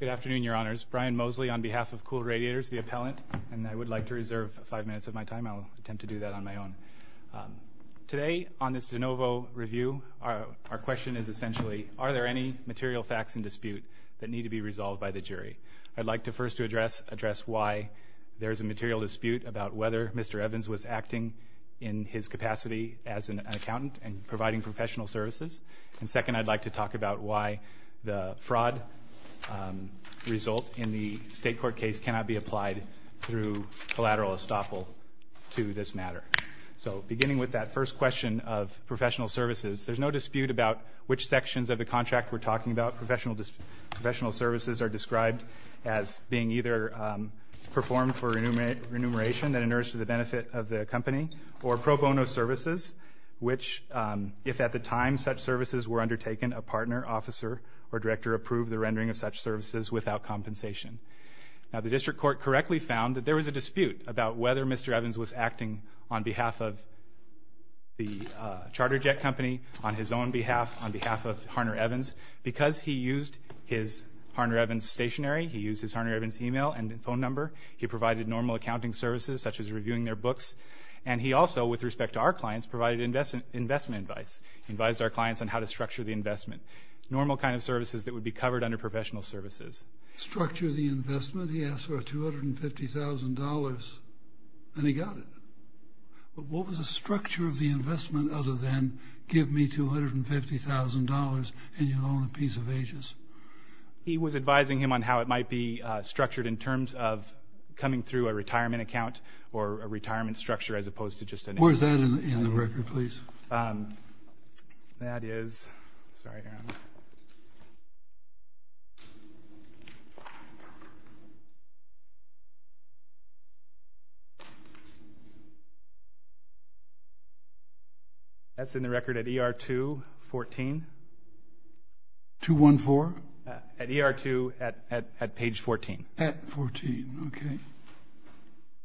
Good afternoon, Your Honors. Brian Mosley on behalf of Kool Radiators, the appellant. And I would like to reserve five minutes of my time. I'll attempt to do that on my own. Today, on this de novo review, our question is essentially, are there any material facts in dispute that need to be resolved by the jury? I'd like to first address why there is a material dispute about whether Mr. Evans was acting in his capacity as an accountant and providing professional services. And second, I'd like to talk about why the fraud result in the state court case cannot be applied through collateral estoppel to this matter. So beginning with that first question of professional services, there's no dispute about which sections of the contract we're talking about. Professional services are described as being either performed for remuneration that inerts to the benefit of the company, or pro bono services, which if at the time such services were undertaken, a partner, officer, or director approved the rendering of such services without compensation. Now the district court correctly found that there was a dispute about whether Mr. Evans was acting on behalf of the charter jet company, on his own behalf, on behalf of Harner Evans. Because he used his Harner Evans stationary, he used his Harner Evans email and phone number, he provided normal accounting services such as reviewing their books, and he also, with respect to our clients, provided investment advice. He advised our clients on how to structure the investment. Normal kind of services that would be covered under professional services. Structure the investment, he asked for $250,000, and he got it. But what was the structure of the investment other than give me $250,000 and you'll own a piece of Aegis? He was advising him on how it might be structured in terms of coming through a retirement account or a retirement structure as opposed to just an Where is that in the record, please? That is, sorry, Aaron. That's in the record at ER 214. 214? At ER 2 at page 14. At 14, okay.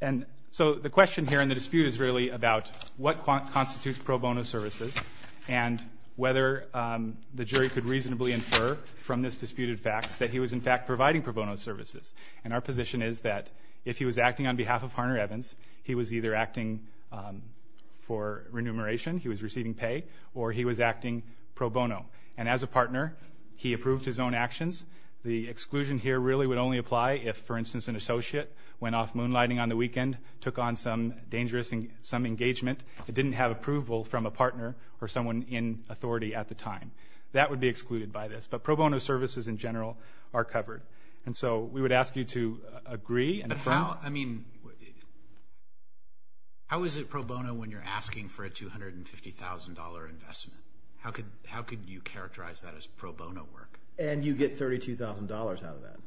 And so the question here in the dispute is really about what constitutes pro bono services and whether the jury could reasonably infer from this disputed facts that he was, in fact, providing pro bono services. And our position is that if he was acting on behalf of Harner Evans, he was either acting for remuneration, he was receiving pay, or he was acting pro bono. And as a partner, he approved his own actions. The exclusion here really would only apply if, for instance, an associate went off moonlighting on the weekend, took on some dangerous engagement, didn't have approval from a partner or someone in authority at the time. That would be excluded by this. But pro bono services in general are covered. And so we would ask you to agree and affirm. I mean, how is it pro bono when you're asking for a $250,000 investment? How could you characterize that as pro bono work? And you get $32,000 out of that.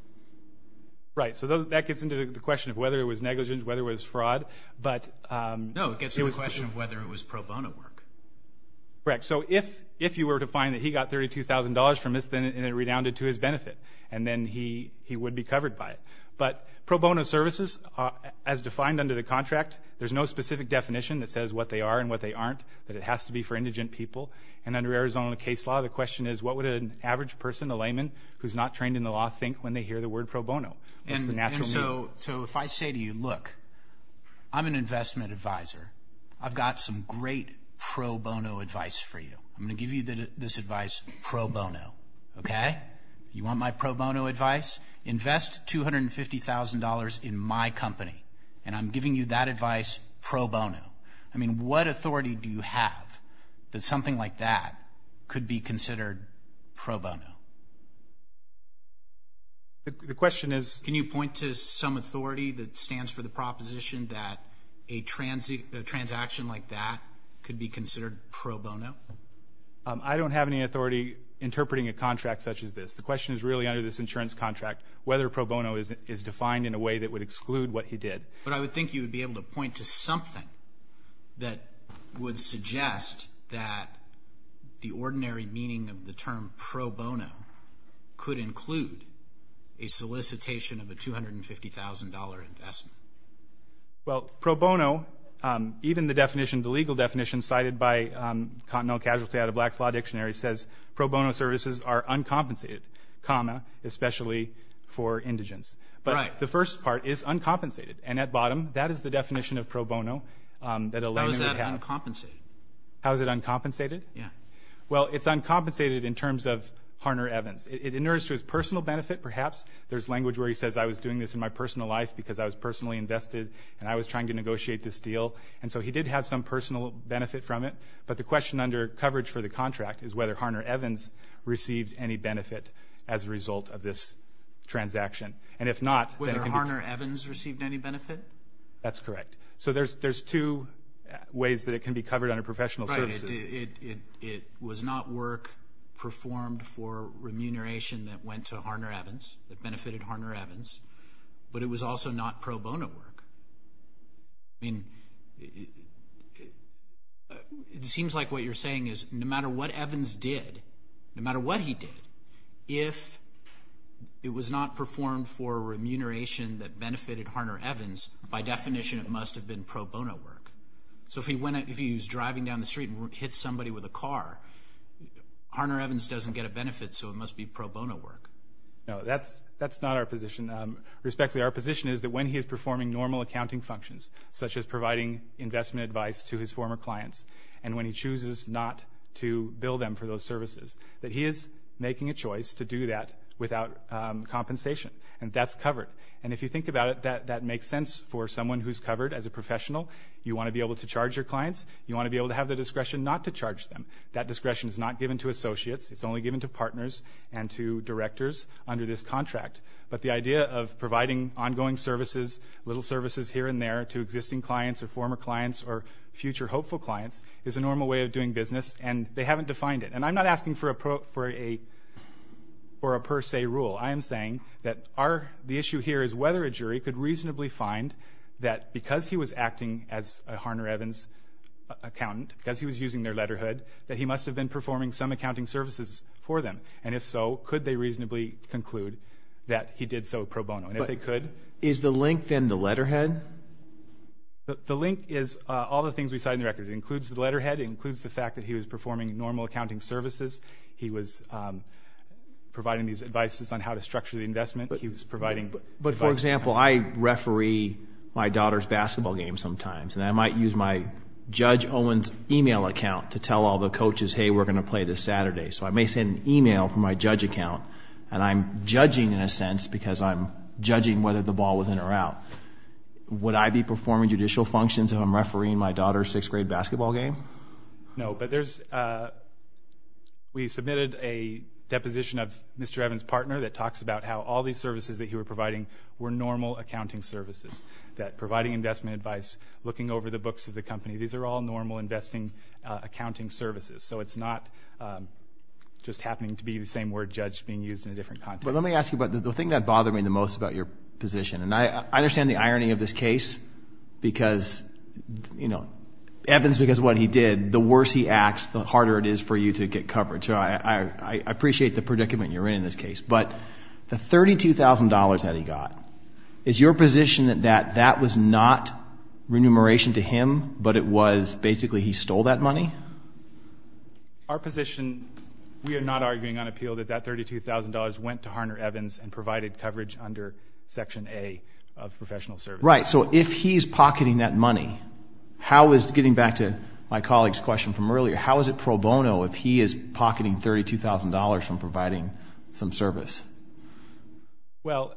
Right. So that gets into the question of whether it was negligence, whether it was fraud. No, it gets into the question of whether it was pro bono work. Correct. So if you were to find that he got $32,000 from this and it redounded to his benefit, and then he would be covered by it. But pro bono services, as defined under the contract, there's no specific definition that says what they are and what they aren't, that it has to be for indigent people. And under Arizona case law, the question is, what would an average person, a layman who's not trained in the law, think when they hear the word pro bono? And so if I say to you, look, I'm an investment advisor. I've got some great pro bono advice for you. I'm going to give you this advice pro bono, okay? You want my pro bono advice? Invest $250,000 in my company, and I'm giving you that advice pro bono. I mean, what authority do you have that something like that could be considered pro bono? The question is? Can you point to some authority that stands for the proposition that a transaction like that could be considered pro bono? I don't have any authority interpreting a contract such as this. The question is really under this insurance contract, whether pro bono is defined in a way that would exclude what he did. But I would think you would be able to point to something that would suggest that the ordinary meaning of the term pro bono could include a solicitation of a $250,000 investment. Well, pro bono, even the legal definition cited by Continental Casualty out of Black's Law Dictionary, says pro bono services are uncompensated, especially for indigents. Right. But the first part is uncompensated, and at bottom, that is the definition of pro bono. How is that uncompensated? How is it uncompensated? Yeah. Well, it's uncompensated in terms of Harner-Evans. It inerts to his personal benefit, perhaps. There's language where he says, I was doing this in my personal life because I was personally invested, and I was trying to negotiate this deal. And so he did have some personal benefit from it. But the question under coverage for the contract is whether Harner-Evans received any benefit as a result of this transaction. And if not, then it can be. Whether Harner-Evans received any benefit? That's correct. So there's two ways that it can be covered under professional services. Right. It was not work performed for remuneration that went to Harner-Evans, that benefited Harner-Evans. But it was also not pro bono work. I mean, it seems like what you're saying is no matter what Evans did, no matter what he did, if it was not performed for remuneration that benefited Harner-Evans, by definition it must have been pro bono work. So if he was driving down the street and hit somebody with a car, Harner-Evans doesn't get a benefit, so it must be pro bono work. No, that's not our position. Respectfully, our position is that when he is performing normal accounting functions, such as providing investment advice to his former clients, and when he chooses not to bill them for those services, that he is making a choice to do that without compensation. And that's covered. And if you think about it, that makes sense for someone who's covered as a professional. You want to be able to charge your clients. You want to be able to have the discretion not to charge them. That discretion is not given to associates. It's only given to partners and to directors under this contract. But the idea of providing ongoing services, little services here and there, to existing clients or former clients or future hopeful clients, is a normal way of doing business, and they haven't defined it. And I'm not asking for a per se rule. I am saying that the issue here is whether a jury could reasonably find that because he was acting as a Harner-Evans accountant, because he was using their letterhood, that he must have been performing some accounting services for them. And if so, could they reasonably conclude that he did so pro bono? And if they could. Is the link then the letterhead? The link is all the things we cite in the record. It includes the letterhead. It includes the fact that he was performing normal accounting services. He was providing these advices on how to structure the investment. He was providing advice. But, for example, I referee my daughter's basketball game sometimes, and I might use my Judge Owens email account to tell all the coaches, hey, we're going to play this Saturday. So I may send an email from my judge account, and I'm judging in a sense because I'm judging whether the ball was in or out. Would I be performing judicial functions if I'm refereeing my daughter's sixth-grade basketball game? No, but there's we submitted a deposition of Mr. Evans' partner that talks about how all these services that he was providing were normal accounting services, that providing investment advice, looking over the books of the company, these are all normal investing accounting services. So it's not just happening to be the same word judged being used in a different context. But let me ask you about the thing that bothered me the most about your position, and I understand the irony of this case because, you know, Evans because of what he did, the worse he acts, the harder it is for you to get coverage. So I appreciate the predicament you're in in this case. But the $32,000 that he got, is your position that that was not remuneration to him, but it was basically he stole that money? Our position, we are not arguing on appeal that that $32,000 went to Harner Evans and provided coverage under Section A of professional services. Right. So if he's pocketing that money, how is, getting back to my colleague's question from earlier, how is it pro bono if he is pocketing $32,000 from providing some service? Well,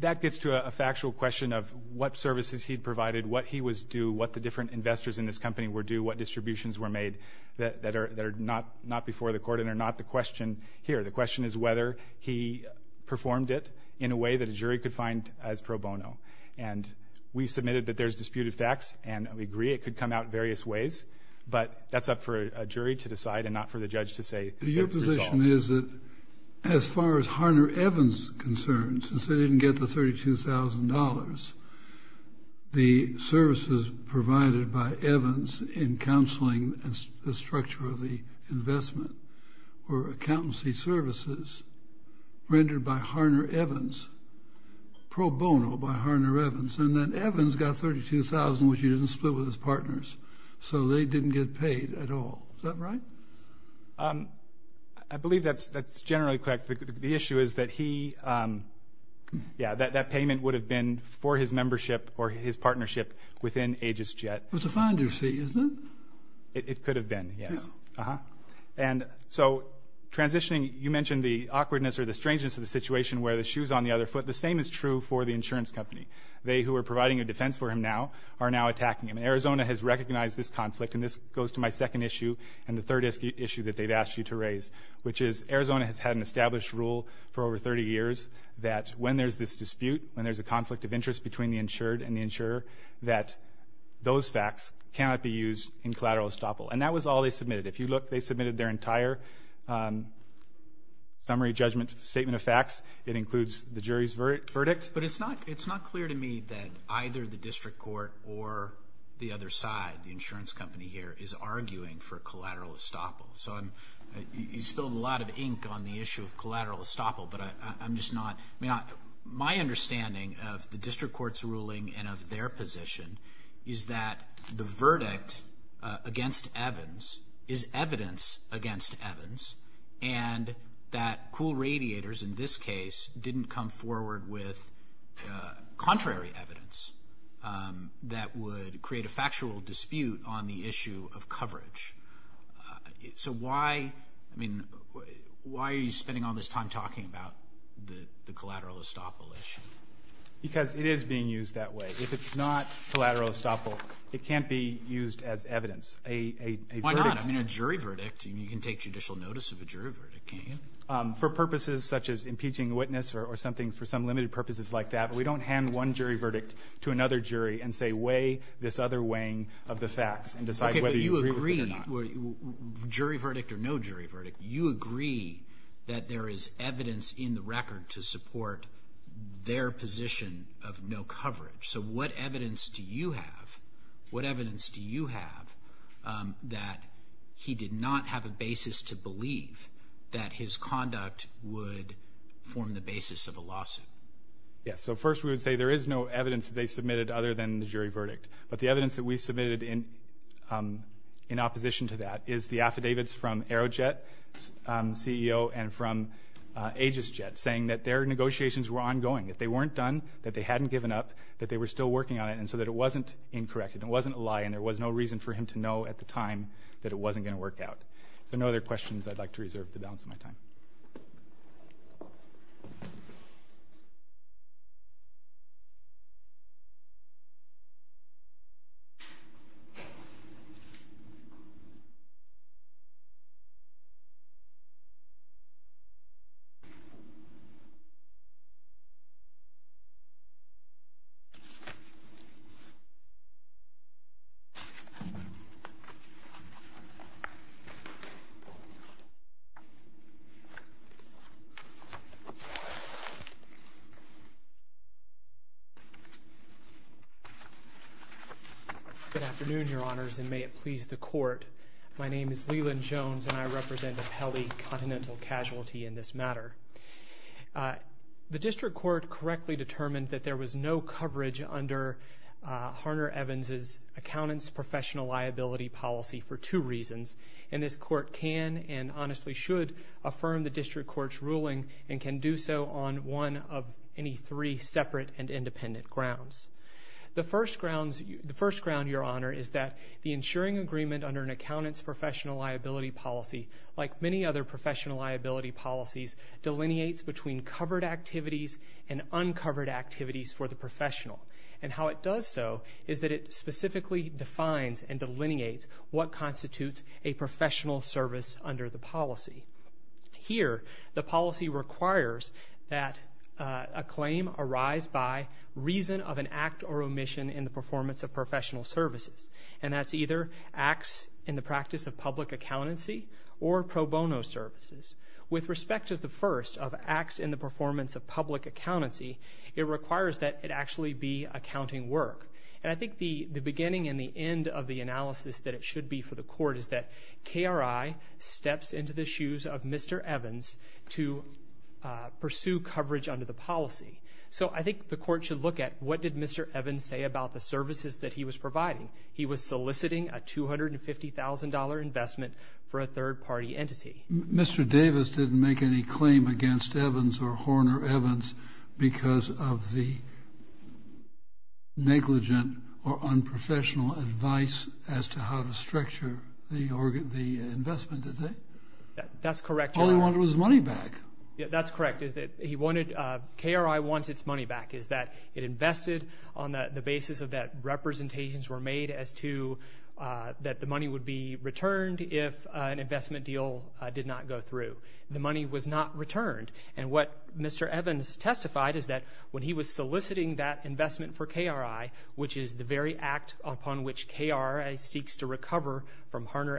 that gets to a factual question of what services he provided, what he was due, what the different investors in this company were due, what distributions were made that are not before the court and are not the question here. The question is whether he performed it in a way that a jury could find as pro bono. And we submitted that there's disputed facts, and we agree it could come out various ways, but that's up for a jury to decide and not for the judge to say it's resolved. Your position is that as far as Harner Evans is concerned, since they didn't get the $32,000, the services provided by Evans in counseling the structure of the investment were accountancy services rendered by Harner Evans, pro bono by Harner Evans, and then Evans got $32,000, which he didn't split with his partners. So they didn't get paid at all. Is that right? I believe that's generally correct. The issue is that he, yeah, that payment would have been for his membership or his partnership within Aegis Jet. It's a fine due fee, isn't it? It could have been, yes. And so transitioning, you mentioned the awkwardness or the strangeness of the situation where the shoe's on the other foot. The same is true for the insurance company. They, who are providing a defense for him now, are now attacking him. Arizona has recognized this conflict, and this goes to my second issue and the third issue that they've asked you to raise, which is Arizona has had an established rule for over 30 years that when there's this dispute, when there's a conflict of interest between the insured and the insurer, that those facts cannot be used in collateral estoppel. And that was all they submitted. If you look, they submitted their entire summary judgment statement of facts. It includes the jury's verdict. But it's not clear to me that either the district court or the other side, the insurance company here, is arguing for collateral estoppel. So you spilled a lot of ink on the issue of collateral estoppel, but I'm just not. My understanding of the district court's ruling and of their position is that the verdict against Evans is evidence against Evans and that Kuhl Radiators in this case didn't come forward with contrary evidence that would create a factual dispute on the issue of coverage. So why are you spending all this time talking about the collateral estoppel issue? Because it is being used that way. If it's not collateral estoppel, it can't be used as evidence. Why not? I mean, a jury verdict. You can take judicial notice of a jury verdict, can't you? For purposes such as impeaching a witness or something for some limited purposes like that. We don't hand one jury verdict to another jury and say weigh this other weighing of the facts and decide whether you agree with it or not. Okay, but you agree, jury verdict or no jury verdict, you agree that there is evidence in the record to support their position of no coverage. So what evidence do you have, what evidence do you have, that he did not have a basis to believe that his conduct would form the basis of a lawsuit? Yes, so first we would say there is no evidence that they submitted other than the jury verdict. But the evidence that we submitted in opposition to that is the affidavits from Aerojet CEO and from Aegisjet saying that their negotiations were ongoing, that they weren't done, that they hadn't given up, that they were still working on it and so that it wasn't incorrect and it wasn't a lie and there was no reason for him to know at the time that it wasn't going to work out. If there are no other questions, I'd like to reserve the balance of my time. Good afternoon, your honors, and may it please the court. My name is Leland Jones and I represent Apelli Continental Casualty in this matter. The district court correctly determined that there was no coverage under Harner Evans' accountant's professional liability policy for two reasons and this court can and honestly should affirm the district court's ruling and can do so on one of any three separate and independent grounds. The first ground, your honor, is that the insuring agreement under an accountant's professional liability policy, like many other professional liability policies, delineates between covered activities and uncovered activities for the professional and how it does so is that it specifically defines and delineates what constitutes a professional service under the policy. Here, the policy requires that a claim arise by reason of an act or omission in the performance of professional services and that's either acts in the practice of public accountancy or pro bono services. With respect to the first of acts in the performance of public accountancy, it requires that it actually be accounting work and I think the beginning and the end of the analysis that it should be for the court is that KRI steps into the shoes of Mr. Evans to pursue coverage under the policy. So I think the court should look at what did Mr. Evans say about the services that he was providing. He was soliciting a $250,000 investment for a third-party entity. Mr. Davis didn't make any claim against Evans or Horner Evans because of the negligent or unprofessional advice as to how to structure the investment, did they? That's correct. All he wanted was money back. That's correct. KRI wants its money back. It invested on the basis that representations were made as to that the money would be returned if an investment deal did not go through. The money was not returned. And what Mr. Evans testified is that when he was soliciting that investment for KRI, which is the very act upon which KRI seeks to recover from Mr.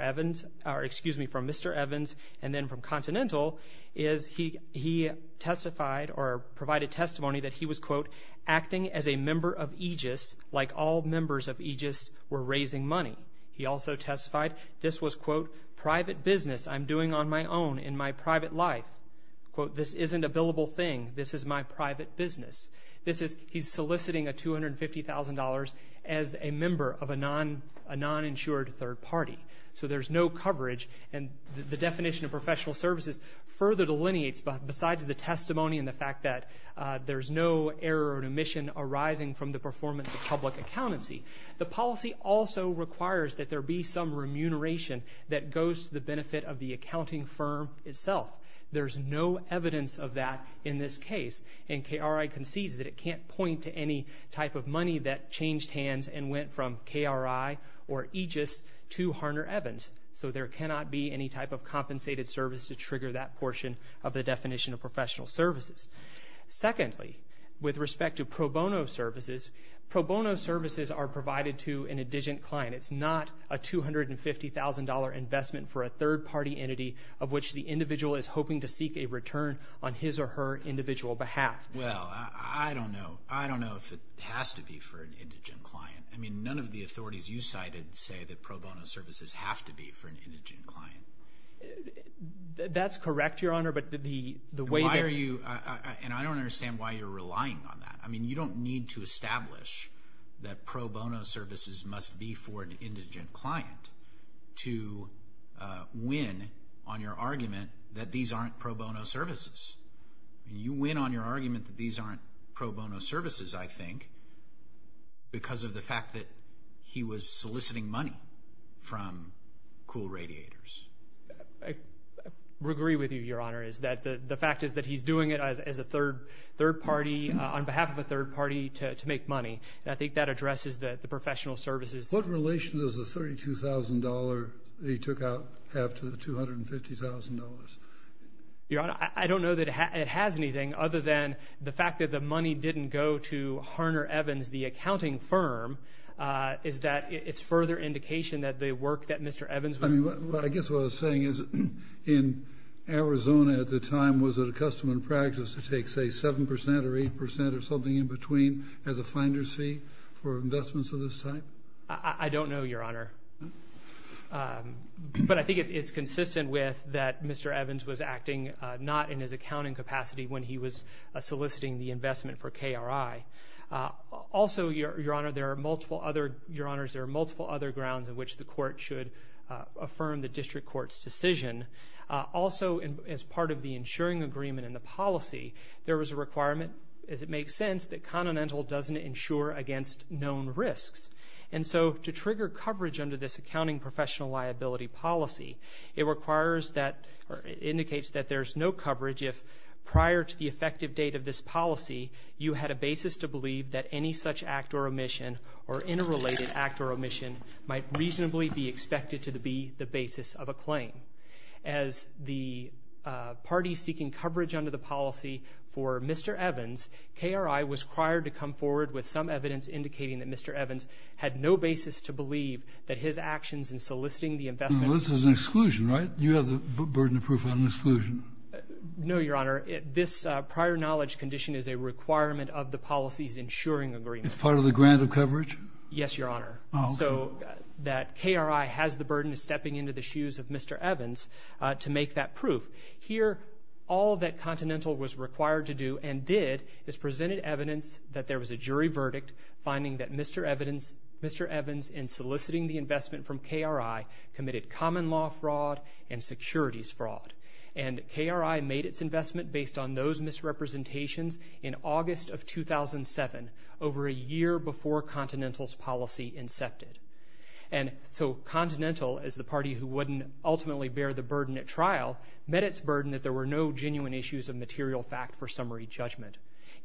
Evans and then from Continental, is he testified or provided testimony that he was, quote, acting as a member of Aegis like all members of Aegis were raising money. He also testified this was, quote, private business I'm doing on my own in my private life. Quote, this isn't a billable thing. This is my private business. He's soliciting a $250,000 as a member of a non-insured third party. So there's no coverage. And the definition of professional services further delineates besides the testimony and the fact that there's no error or omission arising from the performance of public accountancy. The policy also requires that there be some remuneration that goes to the benefit of the accounting firm itself. There's no evidence of that in this case, and KRI concedes that it can't point to any type of money that changed hands and went from KRI or Aegis to Harner Evans. So there cannot be any type of compensated service to trigger that portion of the definition of professional services. Secondly, with respect to pro bono services, pro bono services are provided to an indigent client. It's not a $250,000 investment for a third party entity of which the individual is hoping to seek a return on his or her individual behalf. Well, I don't know. I don't know if it has to be for an indigent client. I mean, none of the authorities you cited say that pro bono services have to be for an indigent client. That's correct, Your Honor, but the way they're And I don't understand why you're relying on that. I mean, you don't need to establish that pro bono services must be for an indigent client to win on your argument that these aren't pro bono services. You win on your argument that these aren't pro bono services, I think, because of the fact that he was soliciting money from cool radiators. I agree with you, Your Honor, is that the fact is that he's doing it as a third party, on behalf of a third party, to make money. I think that addresses the professional services. What relation does the $32,000 that he took out have to the $250,000? Your Honor, I don't know that it has anything other than the fact that the money didn't go to Harner Evans, the accounting firm, is that it's further indication that the work that Mr. Evans was doing as well as saying is in Arizona at the time, was it a custom and practice to take, say, 7 percent or 8 percent or something in between as a finder's fee for investments of this type? I don't know, Your Honor, but I think it's consistent with that Mr. Evans was acting not in his accounting capacity when he was soliciting the investment for KRI. Also, Your Honor, there are multiple other grounds on which the court should affirm the district court's decision. Also, as part of the insuring agreement in the policy, there was a requirement, as it makes sense, that Continental doesn't insure against known risks. And so to trigger coverage under this accounting professional liability policy, it requires that or indicates that there's no coverage if prior to the effective date of this policy, you had a basis to believe that any such act or omission or interrelated act or omission might reasonably be expected to be the basis of a claim. As the parties seeking coverage under the policy for Mr. Evans, KRI was required to come forward with some evidence indicating that Mr. Evans had no basis to believe that his actions in soliciting the investment. Well, this is an exclusion, right? You have the burden of proof on exclusion. No, Your Honor. This prior knowledge condition is a requirement of the policy's insuring agreement. It's part of the grant of coverage? Yes, Your Honor. Oh, okay. So that KRI has the burden of stepping into the shoes of Mr. Evans to make that proof. Here, all that Continental was required to do and did is presented evidence that there was a jury verdict finding that Mr. Evans in soliciting the investment from KRI committed common law fraud and securities fraud. And KRI made its investment based on those misrepresentations in August of 2007, over a year before Continental's policy incepted. And so Continental, as the party who wouldn't ultimately bear the burden at trial, met its burden that there were no genuine issues of material fact for summary judgment.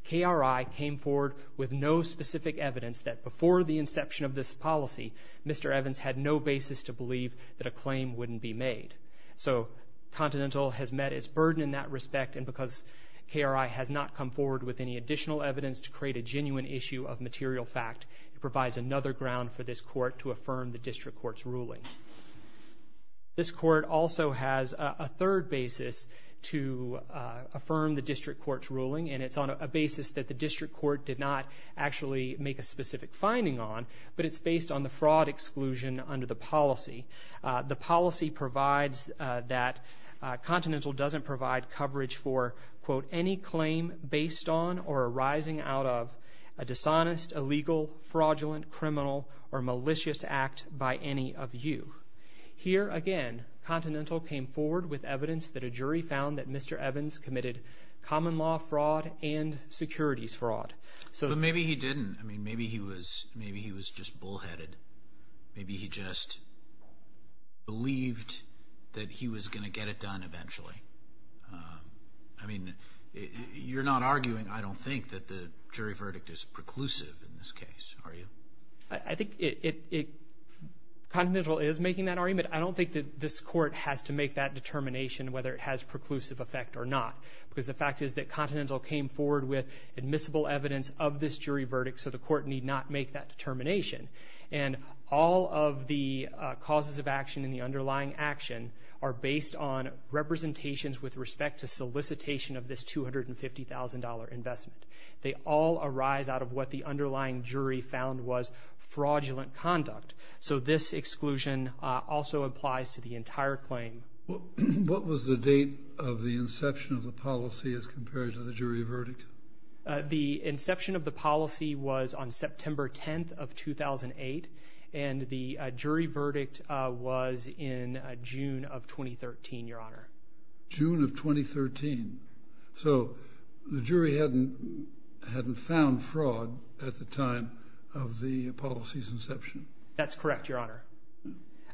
KRI came forward with no specific evidence that before the inception of this policy, Mr. Evans had no basis to believe that a claim wouldn't be made. So Continental has met its burden in that respect, and because KRI has not come forward with any additional evidence to create a genuine issue of material fact, it provides another ground for this court to affirm the district court's ruling. This court also has a third basis to affirm the district court's ruling, and it's on a basis that the district court did not actually make a specific finding on, but it's based on the fraud exclusion under the policy. The policy provides that Continental doesn't provide coverage for, quote, any claim based on or arising out of a dishonest, illegal, fraudulent, criminal, or malicious act by any of you. Here again, Continental came forward with evidence that a jury found that Mr. Evans committed common law fraud and securities fraud. But maybe he didn't. I mean, maybe he was just bullheaded. Maybe he just believed that he was going to get it done eventually. I mean, you're not arguing, I don't think, that the jury verdict is preclusive in this case, are you? I think Continental is making that argument. I don't think that this court has to make that determination whether it has preclusive effect or not, because the fact is that Continental came forward with admissible evidence of this jury verdict, so the court need not make that determination. And all of the causes of action in the underlying action are based on representations with respect to solicitation of this $250,000 investment. They all arise out of what the underlying jury found was fraudulent conduct. So this exclusion also applies to the entire claim. What was the date of the inception of the policy as compared to the jury verdict? The inception of the policy was on September 10th of 2008, and the jury verdict was in June of 2013, Your Honor. June of 2013. So the jury hadn't found fraud at the time of the policy's inception. That's correct, Your Honor.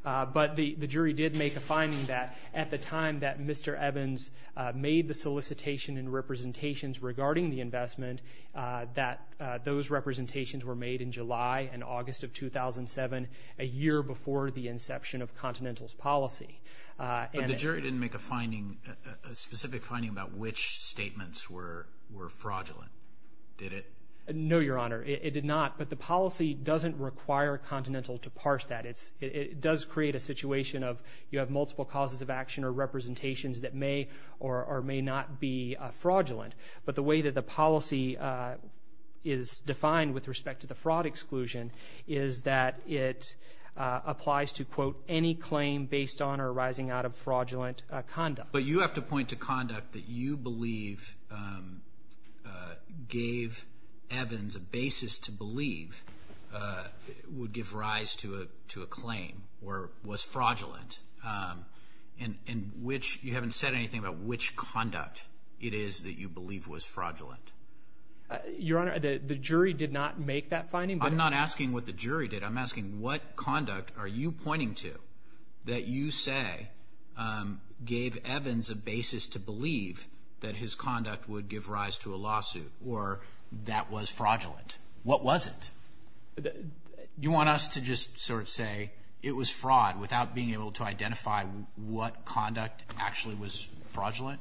But the jury did make a finding that at the time that Mr. Evans made the solicitation and representations regarding the investment, that those representations were made in July and August of 2007, a year before the inception of Continental's policy. But the jury didn't make a specific finding about which statements were fraudulent, did it? No, Your Honor, it did not. But the policy doesn't require Continental to parse that. It does create a situation of you have multiple causes of action or representations that may or may not be fraudulent. But the way that the policy is defined with respect to the fraud exclusion is that it applies to, quote, any claim based on or arising out of fraudulent conduct. But you have to point to conduct that you believe gave Evans a basis to believe would give rise to a claim or was fraudulent in which you haven't said anything about which conduct it is that you believe was fraudulent. Your Honor, the jury did not make that finding. I'm not asking what the jury did. I'm asking what conduct are you pointing to that you say gave Evans a basis to believe that his conduct would give rise to a lawsuit or that was fraudulent? What was it? You want us to just sort of say it was fraud without being able to identify what conduct actually was fraudulent?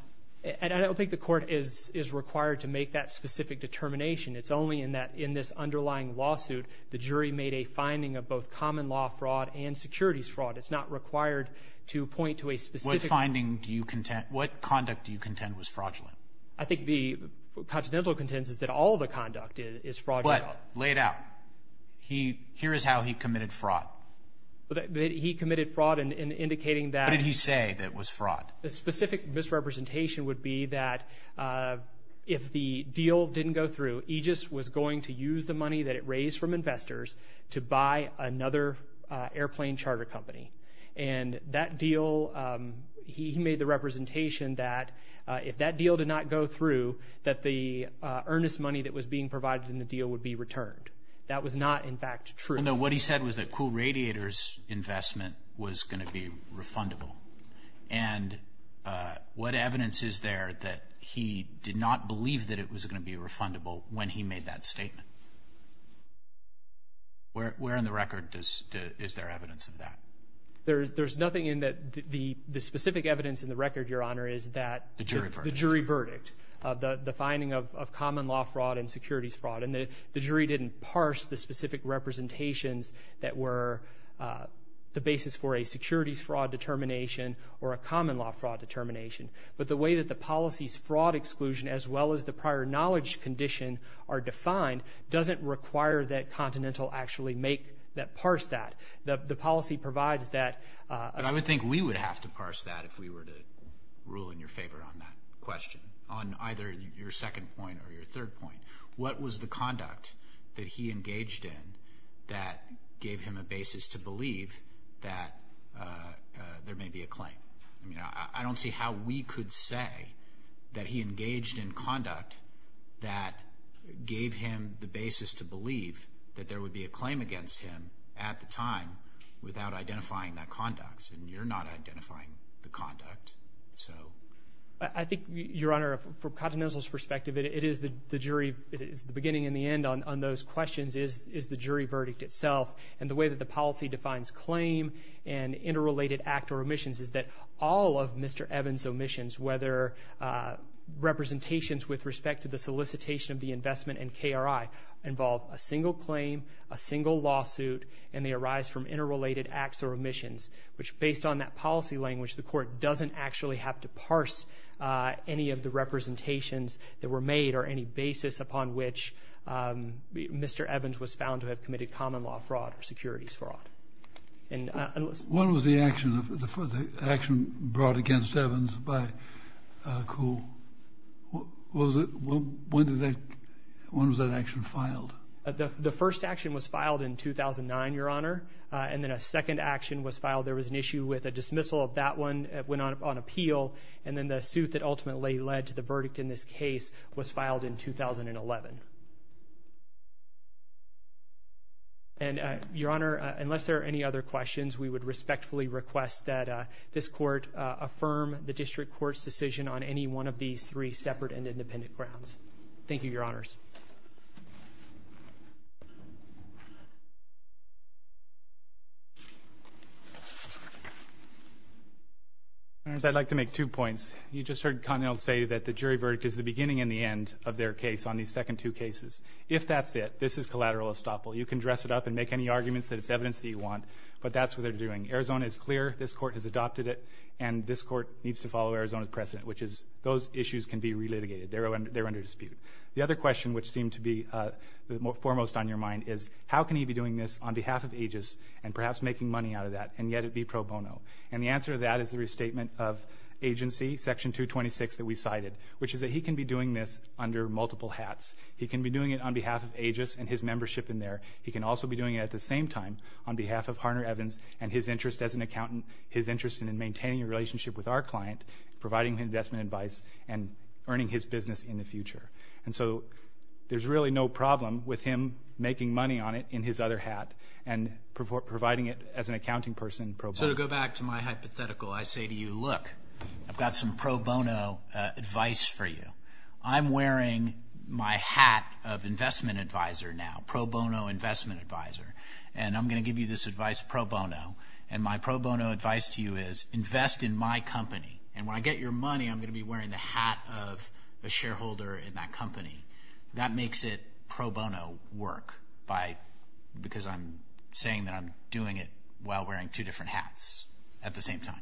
I don't think the court is required to make that specific determination. It's only in that in this underlying lawsuit the jury made a finding of both common law fraud and securities fraud. It's not required to point to a specific. What finding do you contend? What conduct do you contend was fraudulent? I think the continental contendence is that all the conduct is fraudulent. But laid out, here is how he committed fraud. He committed fraud in indicating that. What did he say that was fraud? The specific misrepresentation would be that if the deal didn't go through, Aegis was going to use the money that it raised from investors to buy another airplane charter company. And that deal, he made the representation that if that deal did not go through, that the earnest money that was being provided in the deal would be returned. That was not, in fact, true. What he said was that Kuhl Radiator's investment was going to be refundable. And what evidence is there that he did not believe that it was going to be refundable when he made that statement? Where in the record is there evidence of that? There's nothing in that the specific evidence in the record, Your Honor, is that the jury verdict, the finding of common law fraud and securities fraud. And the jury didn't parse the specific representations that were the basis for a securities fraud determination or a common law fraud determination. But the way that the policy's fraud exclusion as well as the prior knowledge condition are defined doesn't require that Continental actually make that parse that. The policy provides that. But I would think we would have to parse that if we were to rule in your favor on that question, on either your second point or your third point. What was the conduct that he engaged in that gave him a basis to believe that there may be a claim? I mean, I don't see how we could say that he engaged in conduct that gave him the basis to believe that there would be a claim against him at the time without identifying that conduct. I think, Your Honor, from Continental's perspective, it is the jury. The beginning and the end on those questions is the jury verdict itself. And the way that the policy defines claim and interrelated act or omissions is that all of Mr. Evans' omissions, whether representations with respect to the solicitation of the investment and KRI, involve a single claim, a single lawsuit, and they arise from interrelated acts or omissions, which based on that policy language, the court doesn't actually have to parse any of the representations that were made or any basis upon which Mr. Evans was found to have committed common law fraud or securities fraud. What was the action brought against Evans by Kuhl? When was that action filed? The first action was filed in 2009, Your Honor. And then a second action was filed. There was an issue with a dismissal of that one. It went on appeal. And then the suit that ultimately led to the verdict in this case was filed in 2011. And, Your Honor, unless there are any other questions, we would respectfully request that this court affirm the district court's decision on any one of these three separate and independent grounds. Thank you, Your Honors. I'd like to make two points. You just heard Connell say that the jury verdict is the beginning and the end of their case on these second two cases. If that's it, this is collateral estoppel. You can dress it up and make any arguments that it's evidence that you want, but that's what they're doing. Arizona is clear. This court has adopted it. And this court needs to follow Arizona's precedent, which is those issues can be relitigated. They're under dispute. The other question, which seemed to be foremost on your mind, is how can he be doing this on behalf of Aegis and perhaps making money out of that, and yet it be pro bono? And the answer to that is the restatement of agency, Section 226 that we cited, which is that he can be doing this under multiple hats. He can be doing it on behalf of Aegis and his membership in there. He can also be doing it at the same time on behalf of Harner Evans and his interest as an accountant, his interest in maintaining a relationship with our client, providing investment advice, and earning his business in the future. And so there's really no problem with him making money on it in his other hat and providing it as an accounting person pro bono. So to go back to my hypothetical, I say to you, look, I've got some pro bono advice for you. I'm wearing my hat of investment advisor now, pro bono investment advisor, and I'm going to give you this advice pro bono, and my pro bono advice to you is invest in my company. And when I get your money, I'm going to be wearing the hat of a shareholder in that company. That makes it pro bono work because I'm saying that I'm doing it while wearing two different hats at the same time.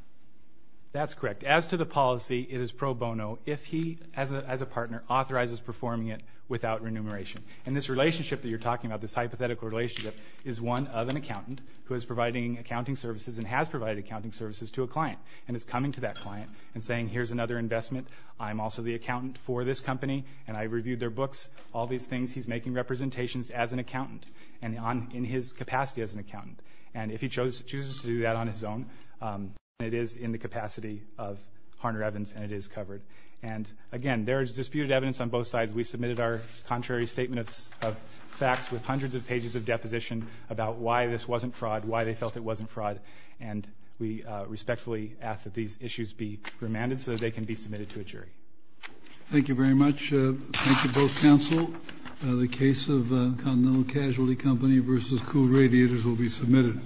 That's correct. As to the policy, it is pro bono if he, as a partner, authorizes performing it without remuneration. And this relationship that you're talking about, this hypothetical relationship, is one of an accountant who is providing accounting services and has provided accounting services to a client, and is coming to that client and saying, here's another investment. I'm also the accountant for this company, and I reviewed their books, all these things. He's making representations as an accountant and in his capacity as an accountant. And if he chooses to do that on his own, it is in the capacity of Harner Evans, and it is covered. And, again, there is disputed evidence on both sides. We submitted our contrary statement of facts with hundreds of pages of deposition about why this wasn't fraud, why they felt it wasn't fraud. And we respectfully ask that these issues be remanded so that they can be submitted to a jury. Thank you very much. Thank you, both counsel. The case of Continental Casualty Company v. Kuhl Radiators will be submitted.